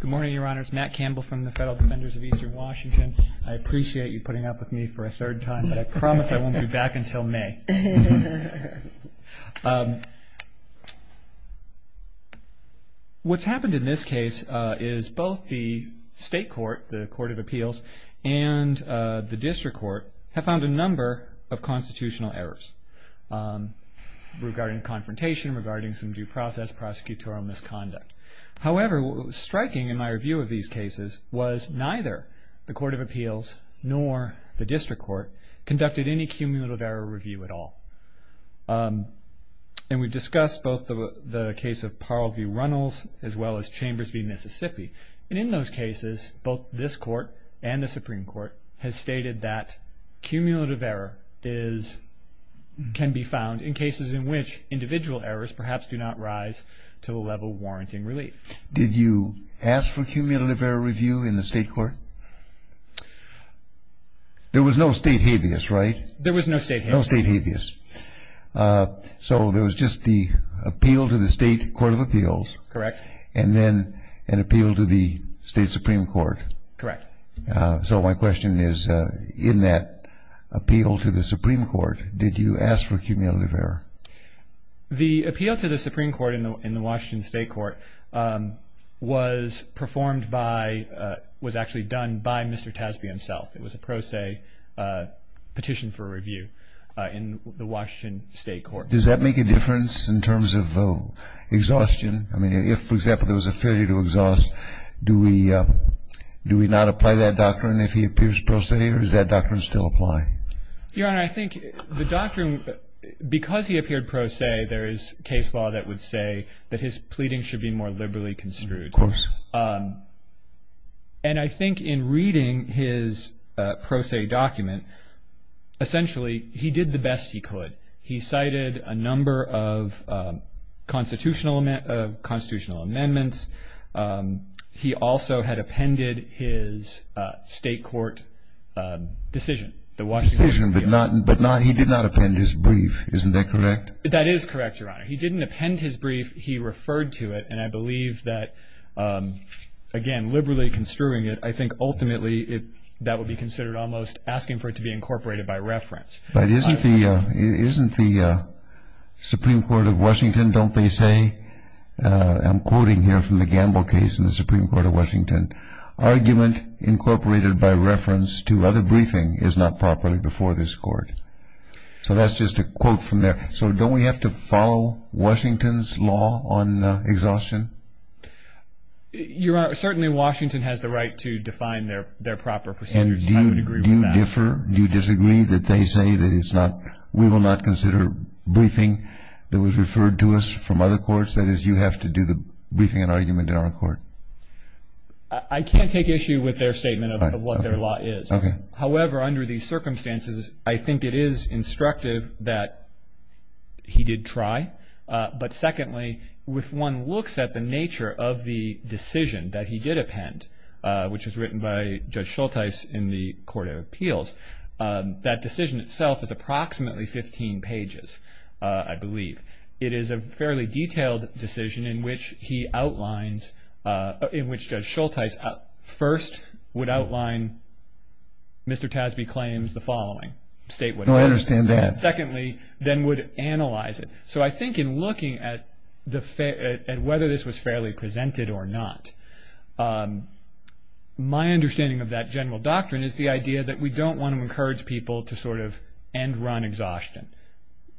Good morning, Your Honors. Matt Campbell from the Federal Defenders of Eastern Washington. I appreciate you putting up with me for a third time, but I promise I won't be back until May. What's happened in this case is both the state court, the Court of Appeals, and the district court have found a number of constitutional errors regarding confrontation, regarding some due process, or prosecutorial misconduct. However, what was striking in my review of these cases was neither the Court of Appeals nor the district court conducted any cumulative error review at all. And we've discussed both the case of Parle v. Runnels as well as Chambers v. Mississippi. And in those cases, both this court and the Supreme Court has stated that cumulative error can be found in cases in which individual errors perhaps do not rise to the level warranting relief. Did you ask for cumulative error review in the state court? There was no state habeas, right? There was no state habeas. No state habeas. So there was just the appeal to the state Court of Appeals. Correct. And then an appeal to the state Supreme Court. Correct. So my question is, in that appeal to the Supreme Court, did you ask for cumulative error? The appeal to the Supreme Court in the Washington state court was performed by, was actually done by Mr. Tasby himself. It was a pro se petition for review in the Washington state court. Does that make a difference in terms of exhaustion? I mean, if, for example, there was a failure to exhaust, do we not apply that doctrine if he appears pro se, or does that doctrine still apply? Your Honor, I think the doctrine, because he appeared pro se, there is case law that would say that his pleading should be more liberally construed. Of course. And I think in reading his pro se document, essentially he did the best he could. He cited a number of constitutional amendments. He also had appended his state court decision. Decision, but he did not append his brief. Isn't that correct? That is correct, Your Honor. He didn't append his brief. He referred to it, and I believe that, again, liberally construing it, I think ultimately that would be considered almost asking for it to be incorporated by reference. But isn't the Supreme Court of Washington, don't they say, I'm quoting here from the Gamble case in the Supreme Court of Washington, argument incorporated by reference to other briefing is not properly before this court. So that's just a quote from there. So don't we have to follow Washington's law on exhaustion? Your Honor, certainly Washington has the right to define their proper procedures. I would agree with that. And do you differ? Do you disagree that they say that it's not, we will not consider briefing that was referred to us from other courts? That is, you have to do the briefing and argument in our court. I can't take issue with their statement of what their law is. Okay. However, under these circumstances, I think it is instructive that he did try. But secondly, if one looks at the nature of the decision that he did append, which was written by Judge Schultes in the Court of Appeals, that decision itself is approximately 15 pages, I believe. It is a fairly detailed decision in which he outlines, in which Judge Schultes first would outline Mr. Tasbee claims the following, state what it is. No, I understand that. Secondly, then would analyze it. So I think in looking at whether this was fairly presented or not, my understanding of that general doctrine is the idea that we don't want to encourage people to sort of end run exhaustion.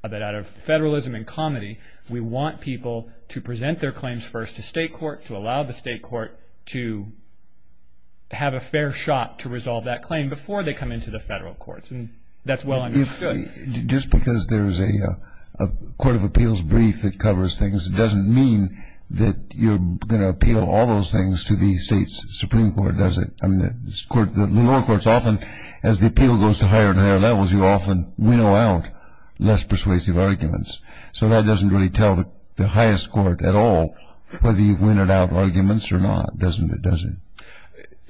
That out of federalism and comedy, we want people to present their claims first to state court, to allow the state court to have a fair shot to resolve that claim before they come into the federal courts. And that's well understood. Just because there's a Court of Appeals brief that covers things, it doesn't mean that you're going to appeal all those things to the state's Supreme Court, does it? I mean, the lower courts often, as the appeal goes to higher and higher levels, you often winnow out less persuasive arguments. So that doesn't really tell the highest court at all whether you've winnowed out arguments or not, does it?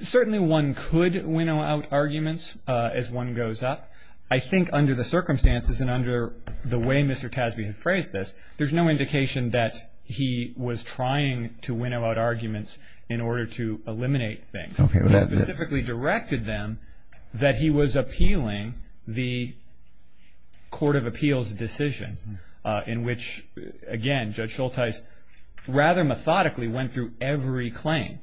Certainly one could winnow out arguments as one goes up. I think under the circumstances and under the way Mr. Tasby has phrased this, there's no indication that he was trying to winnow out arguments in order to eliminate things. He specifically directed them that he was appealing the Court of Appeals decision, in which, again, Judge Schultes rather methodically went through every claim.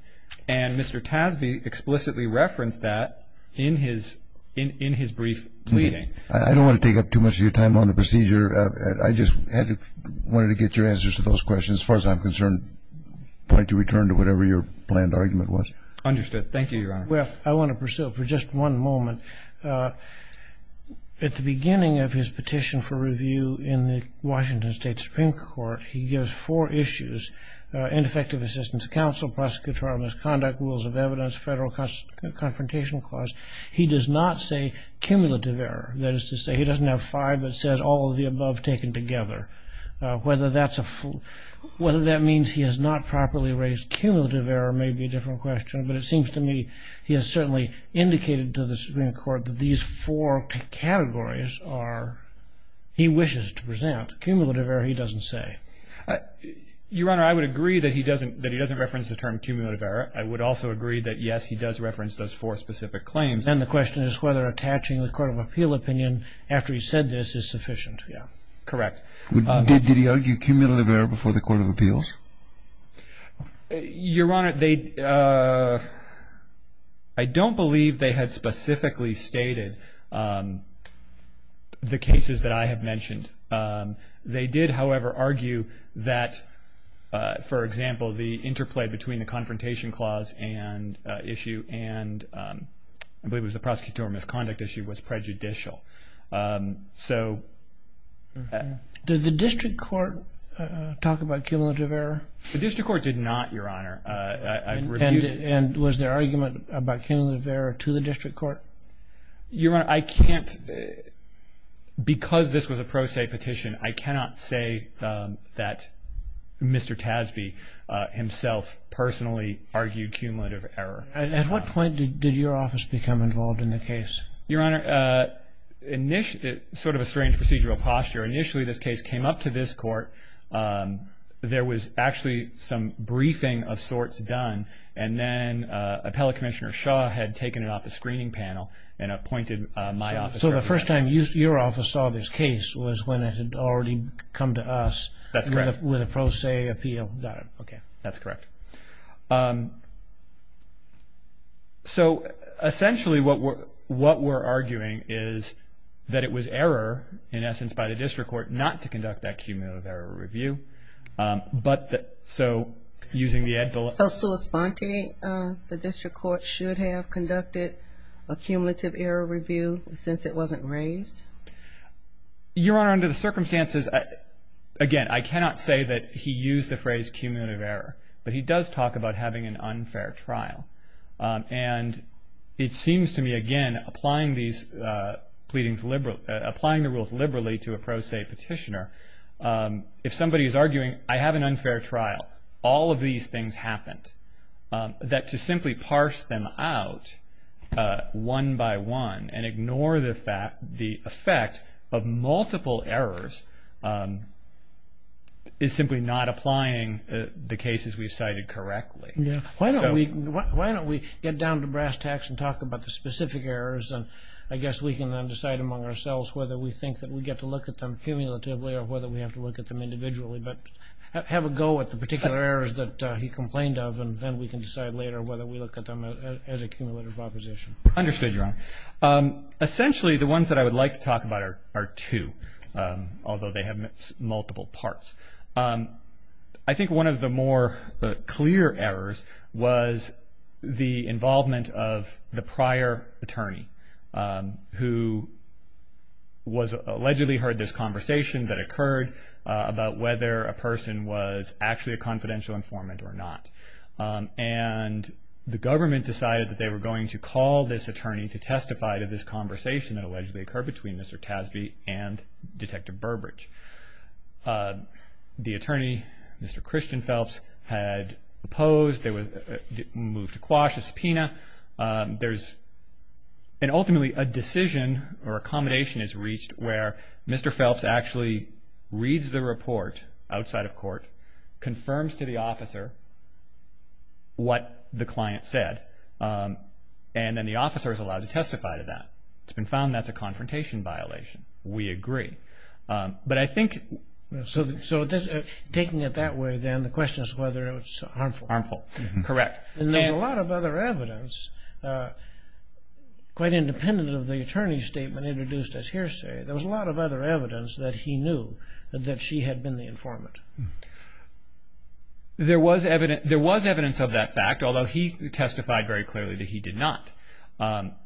And Mr. Tasby explicitly referenced that in his brief pleading. I don't want to take up too much of your time on the procedure. I just wanted to get your answers to those questions. As far as I'm concerned, point to return to whatever your planned argument was. Understood. Thank you, Your Honor. Well, I want to pursue it for just one moment. At the beginning of his petition for review in the Washington State Supreme Court, he gives four issues, ineffective assistance to counsel, prosecutorial misconduct, rules of evidence, federal confrontation clause. He does not say cumulative error. That is to say he doesn't have five, but says all of the above taken together. Whether that means he has not properly raised cumulative error may be a different question, but it seems to me he has certainly indicated to the Supreme Court that these four categories are, he wishes to present. Cumulative error he doesn't say. Your Honor, I would agree that he doesn't reference the term cumulative error. I would also agree that, yes, he does reference those four specific claims. And the question is whether attaching the court of appeal opinion after he's said this is sufficient. Yeah. Correct. Did he argue cumulative error before the court of appeals? Your Honor, I don't believe they had specifically stated the cases that I have mentioned. They did, however, argue that, for example, the interplay between the confrontation clause and issue and I believe it was the prosecutorial misconduct issue was prejudicial. So. Did the district court talk about cumulative error? The district court did not, Your Honor. And was there argument about cumulative error to the district court? Your Honor, I can't, because this was a pro se petition, I cannot say that Mr. Tasby himself personally argued cumulative error. At what point did your office become involved in the case? Your Honor, sort of a strange procedural posture. Initially, this case came up to this court. There was actually some briefing of sorts done, and then Appellate Commissioner Shaw had taken it off the screening panel and appointed my office. So the first time your office saw this case was when it had already come to us. That's correct. With a pro se appeal. Got it. Okay. That's correct. So, essentially, what we're arguing is that it was error, in essence, by the district court not to conduct that cumulative error review. But so using the. So Sulis-Ponte, the district court should have conducted a cumulative error review since it wasn't raised? Your Honor, under the circumstances, again, I cannot say that he used the phrase cumulative error, but he does talk about having an unfair trial. And it seems to me, again, applying the rules liberally to a pro se petitioner, if somebody is arguing I have an unfair trial, all of these things happened, that to simply parse them out one by one and ignore the effect of multiple errors is simply not applying the cases we've cited correctly. Yeah. Why don't we get down to brass tacks and talk about the specific errors, and I guess we can then decide among ourselves whether we think that we get to look at them cumulatively or whether we have to look at them individually. But have a go at the particular errors that he complained of, and then we can decide later whether we look at them as a cumulative proposition. Understood, Your Honor. Essentially, the ones that I would like to talk about are two, although they have multiple parts. I think one of the more clear errors was the involvement of the prior attorney who allegedly heard this conversation that occurred about whether a person was actually a confidential informant or not. And the government decided that they were going to call this attorney to testify to this conversation that allegedly occurred between Mr. Tasby and Detective Burbridge. The attorney, Mr. Christian Phelps, had opposed, moved to quash a subpoena. And ultimately a decision or accommodation is reached where Mr. Phelps actually reads the report outside of court, confirms to the officer what the client said, and then the officer is allowed to testify to that. It's been found that's a confrontation violation. We agree. But I think... So taking it that way then, the question is whether it was harmful. Harmful, correct. And there's a lot of other evidence, quite independent of the attorney's statement introduced as hearsay, there was a lot of other evidence that he knew that she had been the informant. There was evidence of that fact, although he testified very clearly that he did not.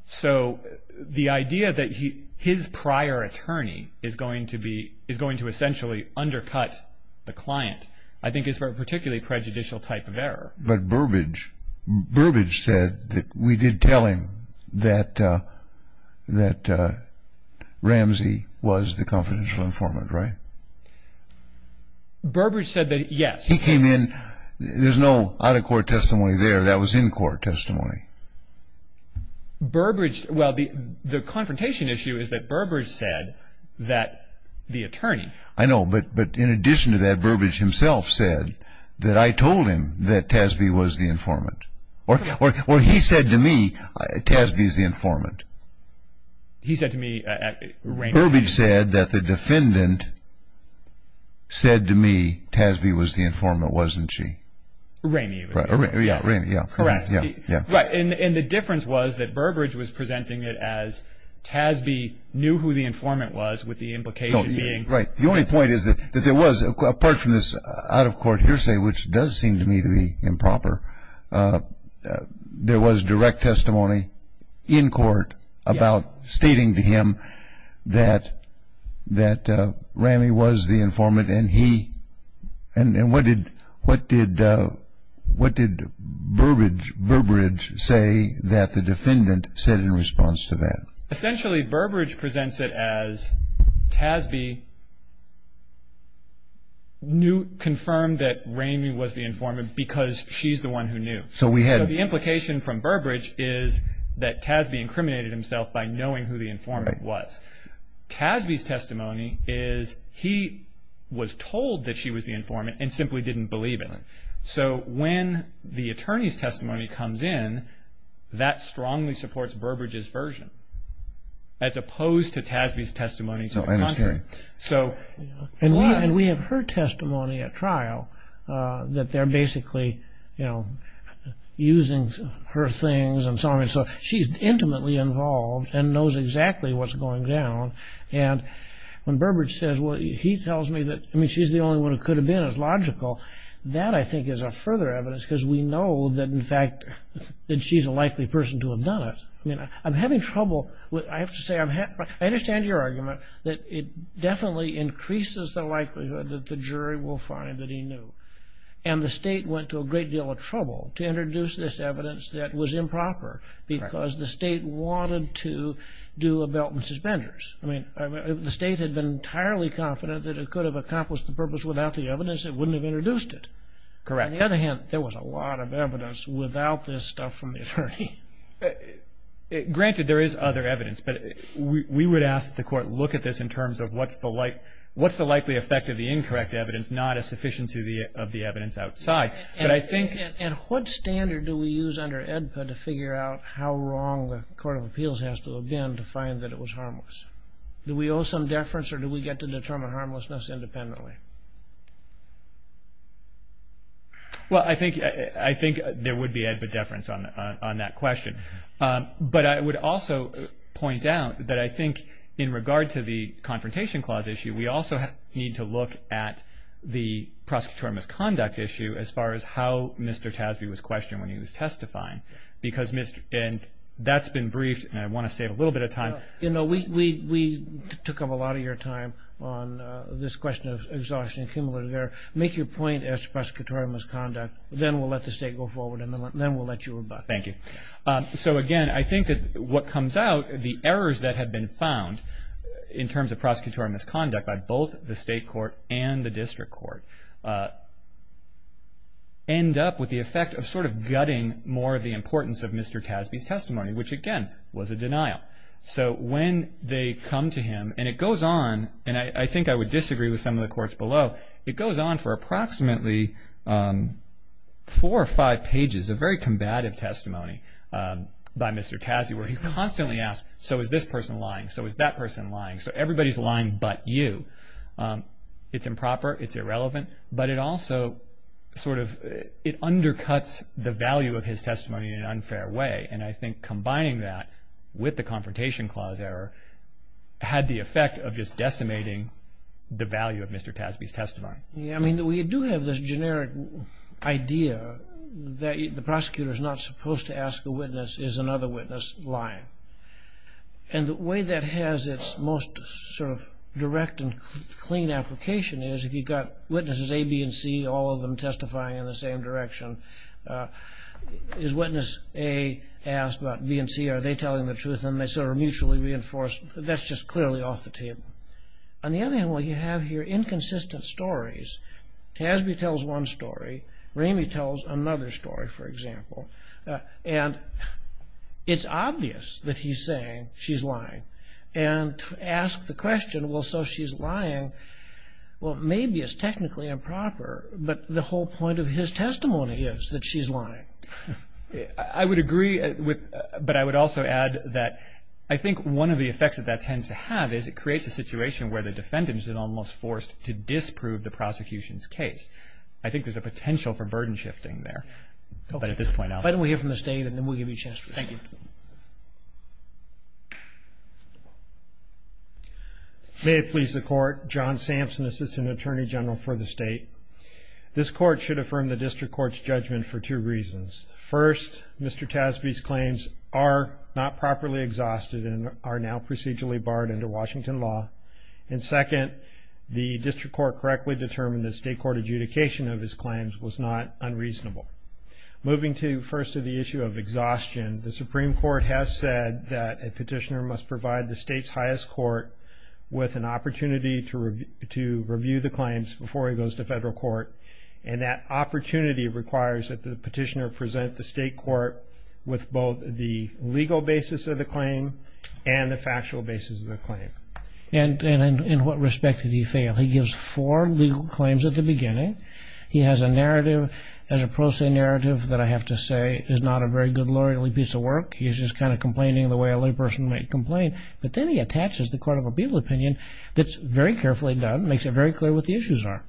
So the idea that his prior attorney is going to essentially undercut the client, I think is a particularly prejudicial type of error. But Burbridge said that we did tell him that Ramsey was the confidential informant, right? Burbridge said that, yes. He came in. There's no out-of-court testimony there. That was in-court testimony. Burbridge, well, the confrontation issue is that Burbridge said that the attorney... I know, but in addition to that, Burbridge himself said that I told him that Tasby was the informant. Or he said to me, Tasby's the informant. He said to me... Burbridge said that the defendant said to me, Tasby was the informant, wasn't she? Ramey was. Ramey, yes. Correct. And the difference was that Burbridge was presenting it as Tasby knew who the informant was with the implication being... Right. The only point is that there was, apart from this out-of-court hearsay, which does seem to me to be improper, there was direct testimony in court about stating to him that Ramey was the informant and he... And what did Burbridge say that the defendant said in response to that? Essentially, Burbridge presents it as Tasby confirmed that Ramey was the informant because she's the one who knew. So we had... So the implication from Burbridge is that Tasby incriminated himself by knowing who the informant was. Tasby's testimony is he was told that she was the informant and simply didn't believe it. So when the attorney's testimony comes in, that strongly supports Burbridge's version. As opposed to Tasby's testimony to the contrary. So I understand. So... And we have her testimony at trial that they're basically, you know, using her things and so on. So she's intimately involved and knows exactly what's going down. And when Burbridge says, well, he tells me that, I mean, she's the only one who could have been, it's logical. That, I think, is a further evidence because we know that, in fact, that she's a likely person to have done it. I mean, I'm having trouble. I have to say, I understand your argument that it definitely increases the likelihood that the jury will find that he knew. And the state went to a great deal of trouble to introduce this evidence that was improper because the state wanted to do a belt and suspenders. I mean, the state had been entirely confident that it could have accomplished the purpose without the evidence. It wouldn't have introduced it. Correct. On the other hand, there was a lot of evidence without this stuff from the attorney. Granted, there is other evidence, but we would ask that the court look at this in terms of what's the likely effect of the incorrect evidence, not a sufficiency of the evidence outside. But I think... And what standard do we use under AEDPA to figure out how wrong the Court of Appeals has to have been to find that it was harmless? Do we owe some deference or do we get to determine harmlessness independently? Well, I think there would be AEDPA deference on that question. But I would also point out that I think in regard to the Confrontation Clause issue, we also need to look at the prosecutorial misconduct issue as far as how Mr. Tasby was questioned when he was testifying. And that's been briefed, and I want to save a little bit of time. You know, we took up a lot of your time on this question of exhaustion and cumulative error. Make your point as to prosecutorial misconduct, then we'll let the state go forward and then we'll let you rebut. Thank you. So, again, I think that what comes out, the errors that have been found in terms of prosecutorial misconduct by both the state court and the district court end up with the effect of sort of gutting more of the importance of Mr. Tasby's testimony, which, again, was a denial. So when they come to him and it goes on, and I think I would disagree with some of the courts below, it goes on for approximately four or five pages of very combative testimony by Mr. Tasby where he's constantly asked, so is this person lying? So is that person lying? So everybody's lying but you. It's improper. It's irrelevant. But it also sort of undercuts the value of his testimony in an unfair way, and I think combining that with the Confrontation Clause error had the effect of just decimating the value of Mr. Tasby's testimony. Yeah, I mean, we do have this generic idea that the prosecutor is not supposed to ask a witness, is another witness lying? And the way that has its most sort of direct and clean application is if you've got witnesses A, B, and C, all of them testifying in the same direction, is witness A asked about B and C, are they telling the truth? And they sort of mutually reinforce. That's just clearly off the table. On the other hand, what you have here, inconsistent stories. Tasby tells one story. Ramey tells another story, for example. And it's obvious that he's saying she's lying. And to ask the question, well, so she's lying, well, maybe it's technically improper, but the whole point of his testimony is that she's lying. I would agree, but I would also add that I think one of the effects that that tends to have is it creates a situation where the defendant is almost forced to disprove the prosecution's case. I think there's a potential for burden shifting there. But at this point, I'll let you go. Why don't we hear from the State and then we'll give you a chance. Thank you. May it please the Court. John Sampson, Assistant Attorney General for the State. This Court should affirm the District Court's judgment for two reasons. First, Mr. Tasby's claims are not properly exhausted and are now procedurally barred under Washington law. And second, the District Court correctly determined that state court adjudication of his claims was not unreasonable. Moving first to the issue of exhaustion, the Supreme Court has said that a petitioner must provide the state's highest court with an opportunity to review the claims before he goes to federal court. And that opportunity requires that the petitioner present the state court with both the legal basis of the claim and the factual basis of the claim. And in what respect did he fail? He gives four legal claims at the beginning. He has a narrative, as a pro se narrative, that I have to say is not a very good lawyerly piece of work. He's just kind of complaining the way a lawyer person might complain. But then he attaches the court of appeal opinion that's very carefully done, makes it very clear what the issues are.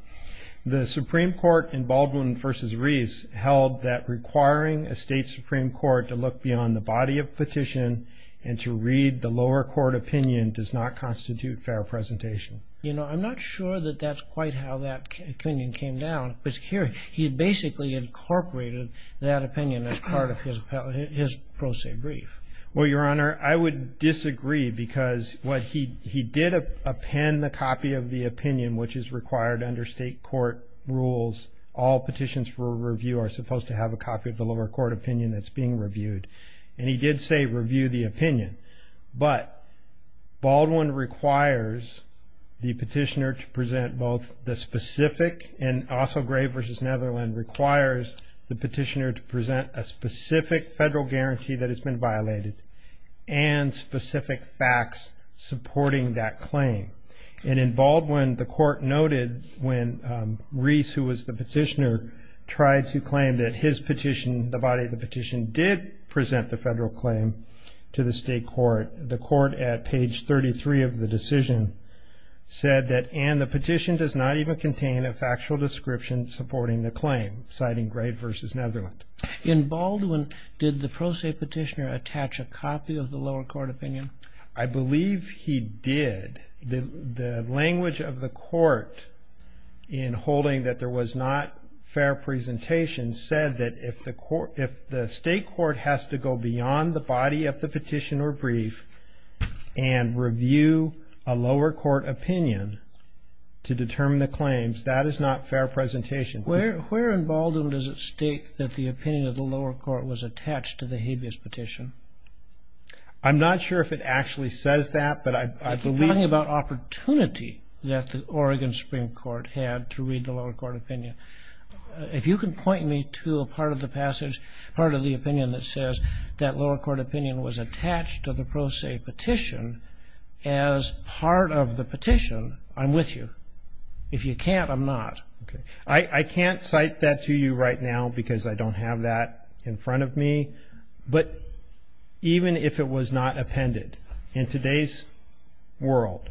The Supreme Court in Baldwin v. Reese held that requiring a state Supreme Court to look beyond the body of petition and to read the lower court opinion does not constitute fair presentation. You know, I'm not sure that that's quite how that opinion came down. But here, he basically incorporated that opinion as part of his pro se brief. Well, Your Honor, I would disagree because what he did append the copy of the opinion, which is required under state court rules, all petitions for review are supposed to have a copy of the lower court opinion that's being reviewed. And he did say review the opinion. But Baldwin requires the petitioner to present both the specific, and also Grave v. Netherland requires the petitioner to present a specific federal guarantee that it's been violated and specific facts supporting that claim. And in Baldwin, the court noted when Reese, who was the petitioner, tried to claim that his petition, the body of the petition, did present the federal claim to the state court. The court at page 33 of the decision said that, and the petition does not even contain a factual description supporting the claim, citing Grave v. Netherland. In Baldwin, did the pro se petitioner attach a copy of the lower court opinion? I believe he did. The language of the court in holding that there was not fair presentation said that if the state court has to go beyond the body of the petition or brief and review a lower court opinion to determine the claims, that is not fair presentation. Where in Baldwin does it state that the opinion of the lower court was attached to the habeas petition? I'm not sure if it actually says that, but I believe You're talking about opportunity that the Oregon Supreme Court had to read the lower court opinion. If you can point me to a part of the passage, part of the opinion that says that lower court opinion was attached to the pro se petition as part of the petition, I'm with you. If you can't, I'm not. I can't cite that to you right now because I don't have that in front of me, but even if it was not appended, in today's world,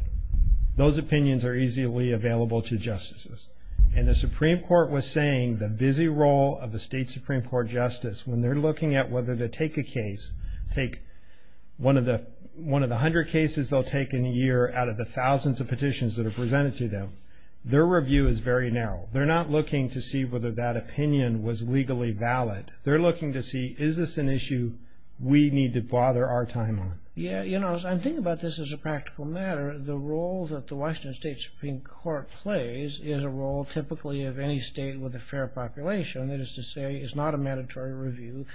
those opinions are easily available to justices. And the Supreme Court was saying the busy role of the state Supreme Court justice, when they're looking at whether to take a case, take one of the hundred cases they'll take in a year out of the thousands of petitions that are presented to them, their review is very narrow. They're not looking to see whether that opinion was legally valid. They're looking to see, is this an issue we need to bother our time on? Yeah, you know, as I'm thinking about this as a practical matter, the role that the Washington State Supreme Court plays is a role typically of any state with a fair population. That is to say, it's not a mandatory review.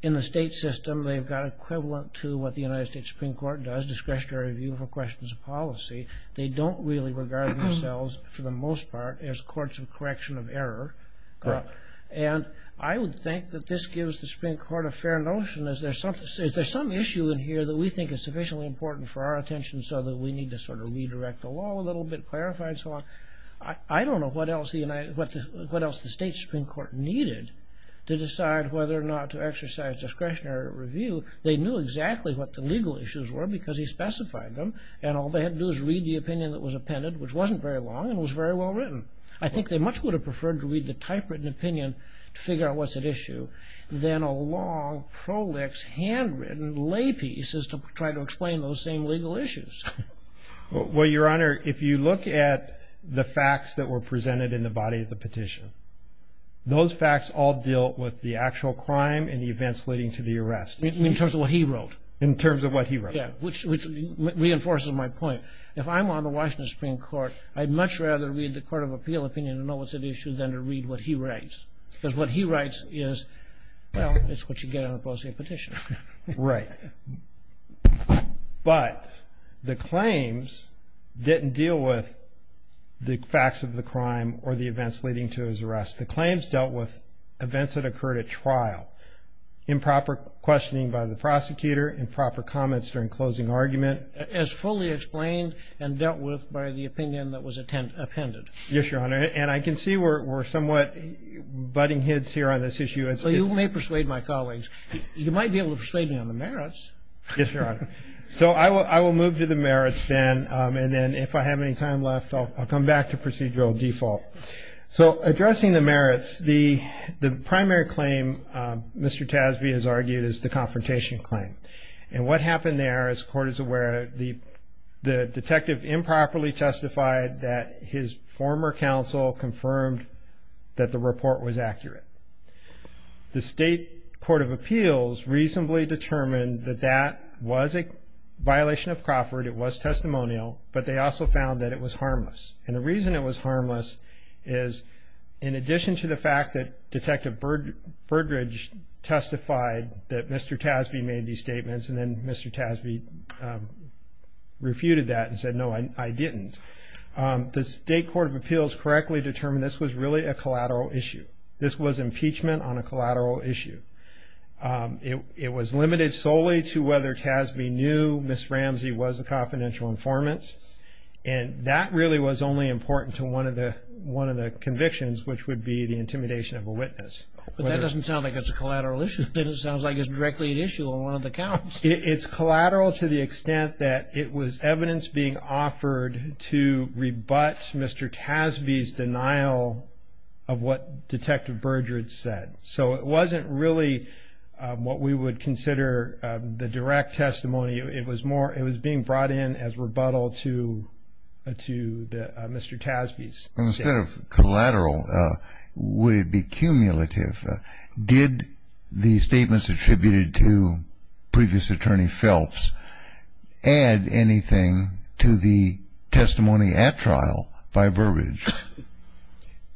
In the state system, they've got equivalent to what the United States Supreme Court does, discretionary review for questions of policy. They don't really regard themselves, for the most part, as courts of correction of error. And I would think that this gives the Supreme Court a fair notion. Is there some issue in here that we think is sufficiently important for our attention so that we need to sort of redirect the law a little bit, clarify and so on? I don't know what else the state Supreme Court needed to decide whether or not to exercise discretionary review. They knew exactly what the legal issues were because he specified them, and all they had to do was read the opinion that was appended, which wasn't very long and was very well written. I think they much would have preferred to read the typewritten opinion to figure out what's at issue than a long, prolix, handwritten lay piece to try to explain those same legal issues. Well, Your Honor, if you look at the facts that were presented in the body of the petition, those facts all deal with the actual crime and the events leading to the arrest. In terms of what he wrote? In terms of what he wrote. Yeah, which reinforces my point. If I'm on the Washington Supreme Court, I'd much rather read the Court of Appeal opinion to know what's at issue than to read what he writes because what he writes is, well, it's what you get on a prosaic petition. Right. But the claims didn't deal with the facts of the crime or the events leading to his arrest. The claims dealt with events that occurred at trial, improper questioning by the prosecutor, improper comments during closing argument. As fully explained and dealt with by the opinion that was appended. Yes, Your Honor, and I can see we're somewhat butting heads here on this issue. So you may persuade my colleagues. You might be able to persuade me on the merits. Yes, Your Honor. So I will move to the merits then, and then if I have any time left, I'll come back to procedural default. So addressing the merits, the primary claim Mr. Tasby has argued is the confrontation claim. And what happened there, as the Court is aware, the detective improperly testified that his former counsel confirmed that the report was accurate. The State Court of Appeals reasonably determined that that was a violation of Crawford, it was testimonial, but they also found that it was harmless. And the reason it was harmless is in addition to the fact that Detective Burdridge testified that Mr. Tasby made these statements and then Mr. Tasby refuted that and said, no, I didn't. The State Court of Appeals correctly determined this was really a collateral issue. This was impeachment on a collateral issue. It was limited solely to whether Tasby knew Ms. Ramsey was a confidential informant. And that really was only important to one of the convictions, which would be the intimidation of a witness. But that doesn't sound like it's a collateral issue. It sounds like it's directly an issue on one of the counts. It's collateral to the extent that it was evidence being offered to rebut Mr. Tasby's denial of what Detective Burdridge said. So it wasn't really what we would consider the direct testimony. It was being brought in as rebuttal to Mr. Tasby's statement. Well, instead of collateral, would it be cumulative? Did the statements attributed to previous attorney Phelps add anything to the testimony at trial by Burdridge?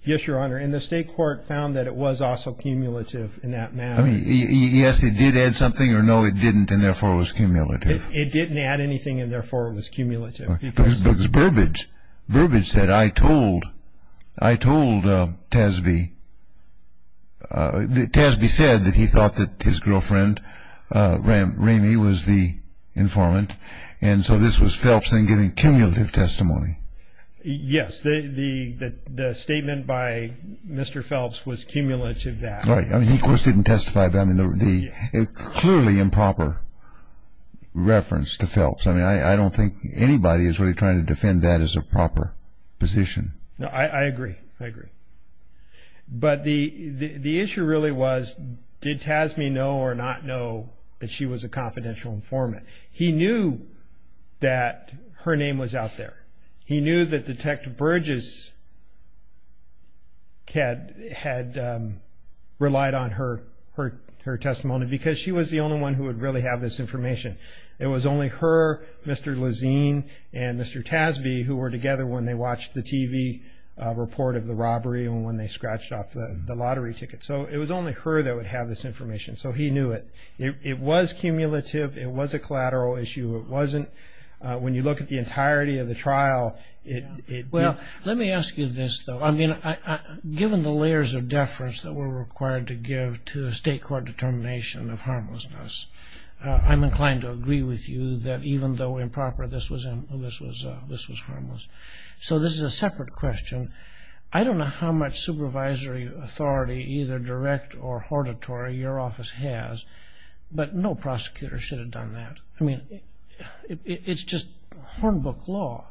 Yes, Your Honor. And the State Court found that it was also cumulative in that matter. I mean, yes, it did add something, or no, it didn't, and therefore it was cumulative. Because Burdridge said, I told Tasby, Tasby said that he thought that his girlfriend, Ramey, was the informant, and so this was Phelps then giving cumulative testimony. Yes, the statement by Mr. Phelps was cumulative in that. I mean, he, of course, didn't testify, but I mean, a clearly improper reference to Phelps. I mean, I don't think anybody is really trying to defend that as a proper position. No, I agree. I agree. But the issue really was, did Tasby know or not know that she was a confidential informant? He knew that her name was out there. He knew that Detective Burdridge had relied on her testimony because she was the only one who would really have this information. It was only her, Mr. Lazine, and Mr. Tasby who were together when they watched the TV report of the robbery and when they scratched off the lottery ticket. So it was only her that would have this information. So he knew it. It was cumulative. It was a collateral issue. It wasn't, when you look at the entirety of the trial, it did. Well, let me ask you this, though. I mean, given the layers of deference that were required to give to the State Court determination of harmlessness, I'm inclined to agree with you that even though improper, this was harmless. So this is a separate question. I don't know how much supervisory authority, either direct or hortatory, your office has, but no prosecutor should have done that. I mean, it's just hornbook law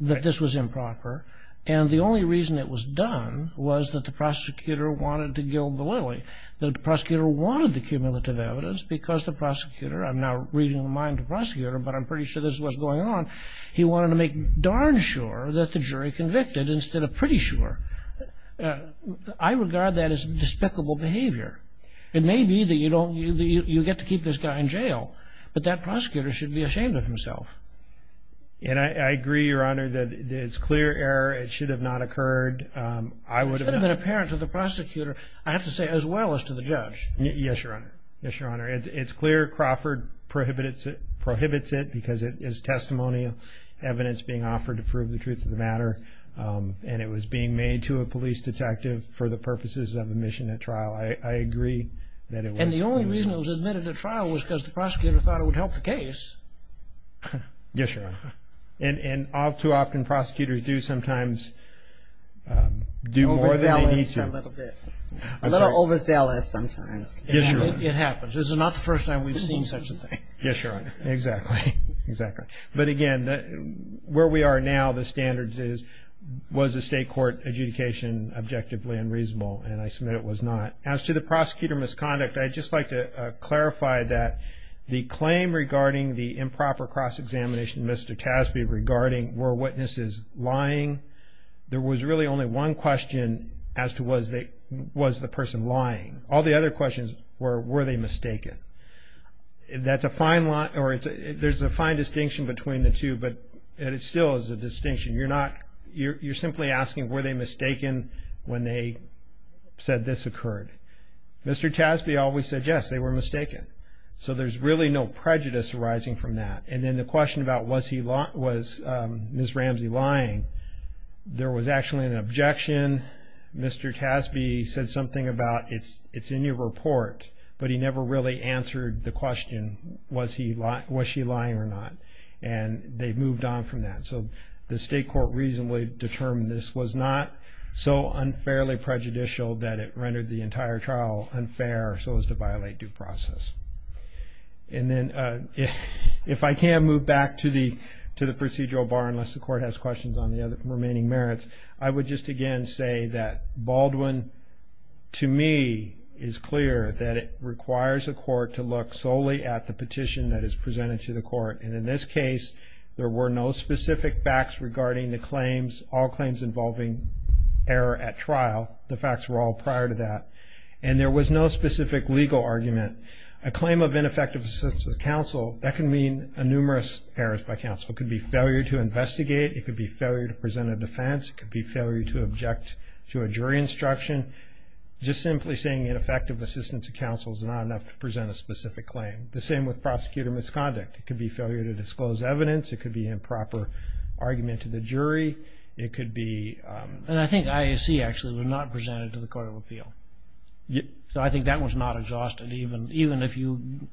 that this was improper, and the only reason it was done was that the prosecutor wanted to gild the lily, that the prosecutor wanted the cumulative evidence because the prosecutor, I'm now reading the mind of the prosecutor, but I'm pretty sure this was going on, he wanted to make darn sure that the jury convicted instead of pretty sure. I regard that as despicable behavior. It may be that you get to keep this guy in jail, but that prosecutor should be ashamed of himself. And I agree, Your Honor, that it's clear error. It should have not occurred. I would have not. I have to say as well as to the judge. Yes, Your Honor. Yes, Your Honor. It's clear Crawford prohibits it because it is testimonial evidence being offered to prove the truth of the matter, and it was being made to a police detective for the purposes of admission at trial. I agree that it was. And the only reason it was admitted at trial was because the prosecutor thought it would help the case. Yes, Your Honor. And all too often prosecutors do sometimes do more than they need to. Overzealous a little bit. A little overzealous sometimes. Yes, Your Honor. It happens. This is not the first time we've seen such a thing. Yes, Your Honor. Exactly. Exactly. But, again, where we are now, the standards is was the state court adjudication objectively unreasonable, and I submit it was not. As to the prosecutor misconduct, I'd just like to clarify that the claim regarding the improper cross-examination, Mr. Tasby, regarding were witnesses lying, there was really only one question as to was the person lying. All the other questions were were they mistaken. There's a fine distinction between the two, but it still is a distinction. You're simply asking were they mistaken when they said this occurred. Mr. Tasby always said yes, they were mistaken. So there's really no prejudice arising from that. And then the question about was Ms. Ramsey lying, there was actually an objection. Mr. Tasby said something about it's in your report, but he never really answered the question was she lying or not, and they moved on from that. So the state court reasonably determined this was not so unfairly prejudicial that it rendered the entire trial unfair so as to violate due process. And then if I can move back to the procedural bar, unless the court has questions on the remaining merits, I would just again say that Baldwin, to me, is clear that it requires a court to look solely at the petition that is presented to the court. And in this case, there were no specific facts regarding the claims, all claims involving error at trial. The facts were all prior to that. And there was no specific legal argument. A claim of ineffective assistance of counsel, that can mean numerous errors by counsel. It could be failure to investigate. It could be failure to present a defense. It could be failure to object to a jury instruction. Just simply saying ineffective assistance of counsel is not enough to present a specific claim. The same with prosecutor misconduct. It could be failure to disclose evidence. It could be improper argument to the jury. It could be ‑‑ And I think IAC, actually, was not presented to the court of appeal. So I think that was not adjusted, even if you ‑‑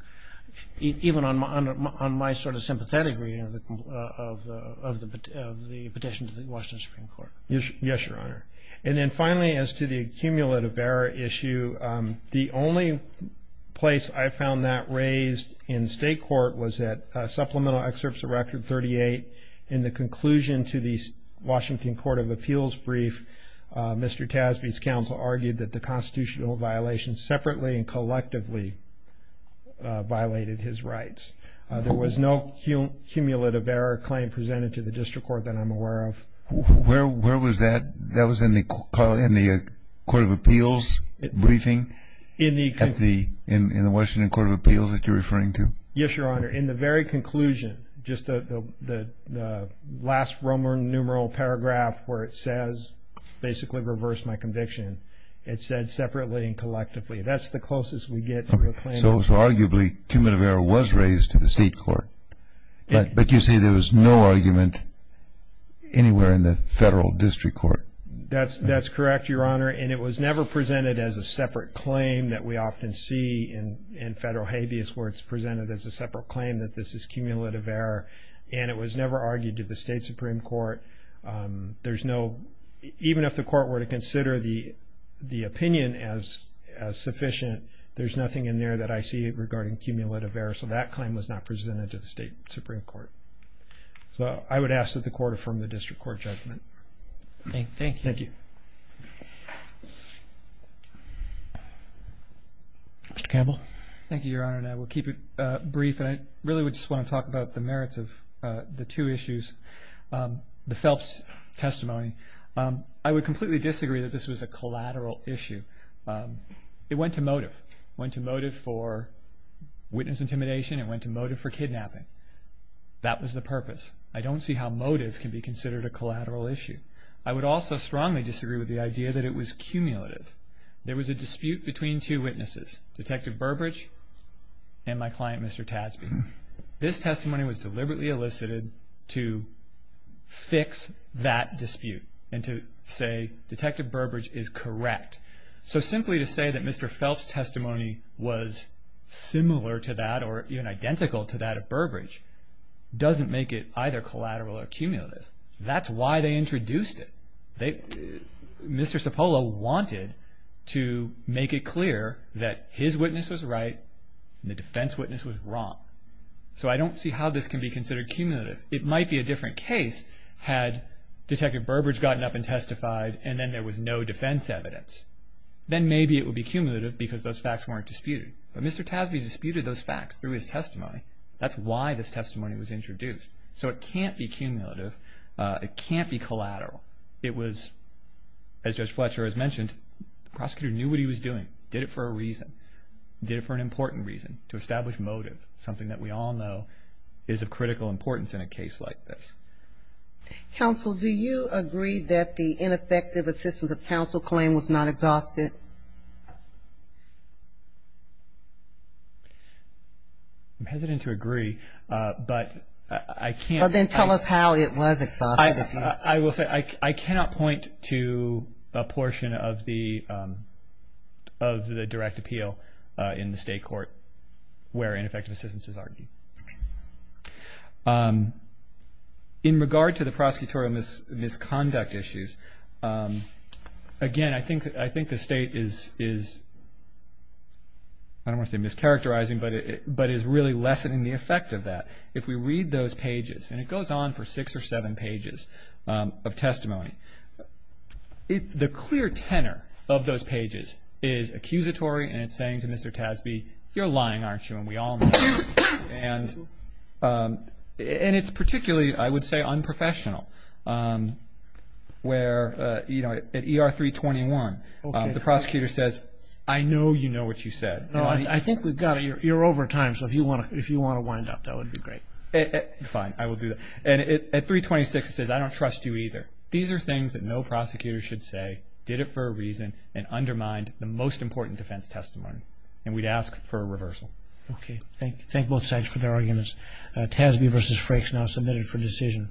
even on my sort of sympathetic reading of the petition to the Washington Supreme Court. Yes, Your Honor. And then, finally, as to the accumulative error issue, the only place I found that raised in state court was at supplemental excerpts of Record 38. In the conclusion to the Washington Court of Appeals brief, Mr. Tasbee's counsel argued that the constitutional violations separately and collectively violated his rights. There was no cumulative error claim presented to the district court that I'm aware of. Where was that? That was in the court of appeals briefing? In the ‑‑ In the Washington Court of Appeals that you're referring to? Yes, Your Honor. In the very conclusion, just the last Roman numeral paragraph where it says, basically reverse my conviction, it said separately and collectively. That's the closest we get to a claim. So, arguably, cumulative error was raised to the state court. But you say there was no argument anywhere in the federal district court? That's correct, Your Honor. And it was never presented as a separate claim that we often see in federal habeas where it's presented as a separate claim that this is cumulative error. And it was never argued to the state supreme court. There's no ‑‑ even if the court were to consider the opinion as sufficient, there's nothing in there that I see regarding cumulative error. So that claim was not presented to the state supreme court. So I would ask that the court affirm the district court judgment. Thank you. Thank you. Mr. Campbell? Thank you, Your Honor, and I will keep it brief. And I really would just want to talk about the merits of the two issues. The Phelps testimony, I would completely disagree that this was a collateral issue. It went to motive. It went to motive for witness intimidation. It went to motive for kidnapping. That was the purpose. I don't see how motive can be considered a collateral issue. I would also strongly disagree with the idea that it was cumulative. There was a dispute between two witnesses, Detective Burbridge and my client, Mr. Tadsby. This testimony was deliberately elicited to fix that dispute and to say Detective Burbridge is correct. So simply to say that Mr. Phelps' testimony was similar to that or even identical to that of Burbridge doesn't make it either collateral or cumulative. That's why they introduced it. Mr. Cipolla wanted to make it clear that his witness was right and the defense witness was wrong. So I don't see how this can be considered cumulative. It might be a different case had Detective Burbridge gotten up and testified and then there was no defense evidence. Then maybe it would be cumulative because those facts weren't disputed. But Mr. Tadsby disputed those facts through his testimony. That's why this testimony was introduced. So it can't be cumulative. It can't be collateral. It was, as Judge Fletcher has mentioned, the prosecutor knew what he was doing, did it for a reason, did it for an important reason, to establish motive, something that we all know is of critical importance in a case like this. Counsel, do you agree that the ineffective assistance of counsel claim was not exhausted? I'm hesitant to agree, but I can't. Then tell us how it was exhausted. I will say I cannot point to a portion of the direct appeal in the state court where ineffective assistance is argued. In regard to the prosecutorial misconduct issues, again, I think the state is, I don't want to say mischaracterizing, but is really lessening the effect of that. If we read those pages, and it goes on for six or seven pages of testimony, the clear tenor of those pages is accusatory and it's saying to Mr. Tasbee, you're lying, aren't you, and we all know that. And it's particularly, I would say, unprofessional where, you know, at ER 321, the prosecutor says, I know you know what you said. I think we've got it. You're over time, so if you want to wind up, that would be great. Fine, I will do that. And at 326, it says, I don't trust you either. These are things that no prosecutor should say, did it for a reason, and undermined the most important defense testimony. And we'd ask for a reversal. Okay, thank both sides for their arguments. Tasbee v. Frakes now submitted for decision.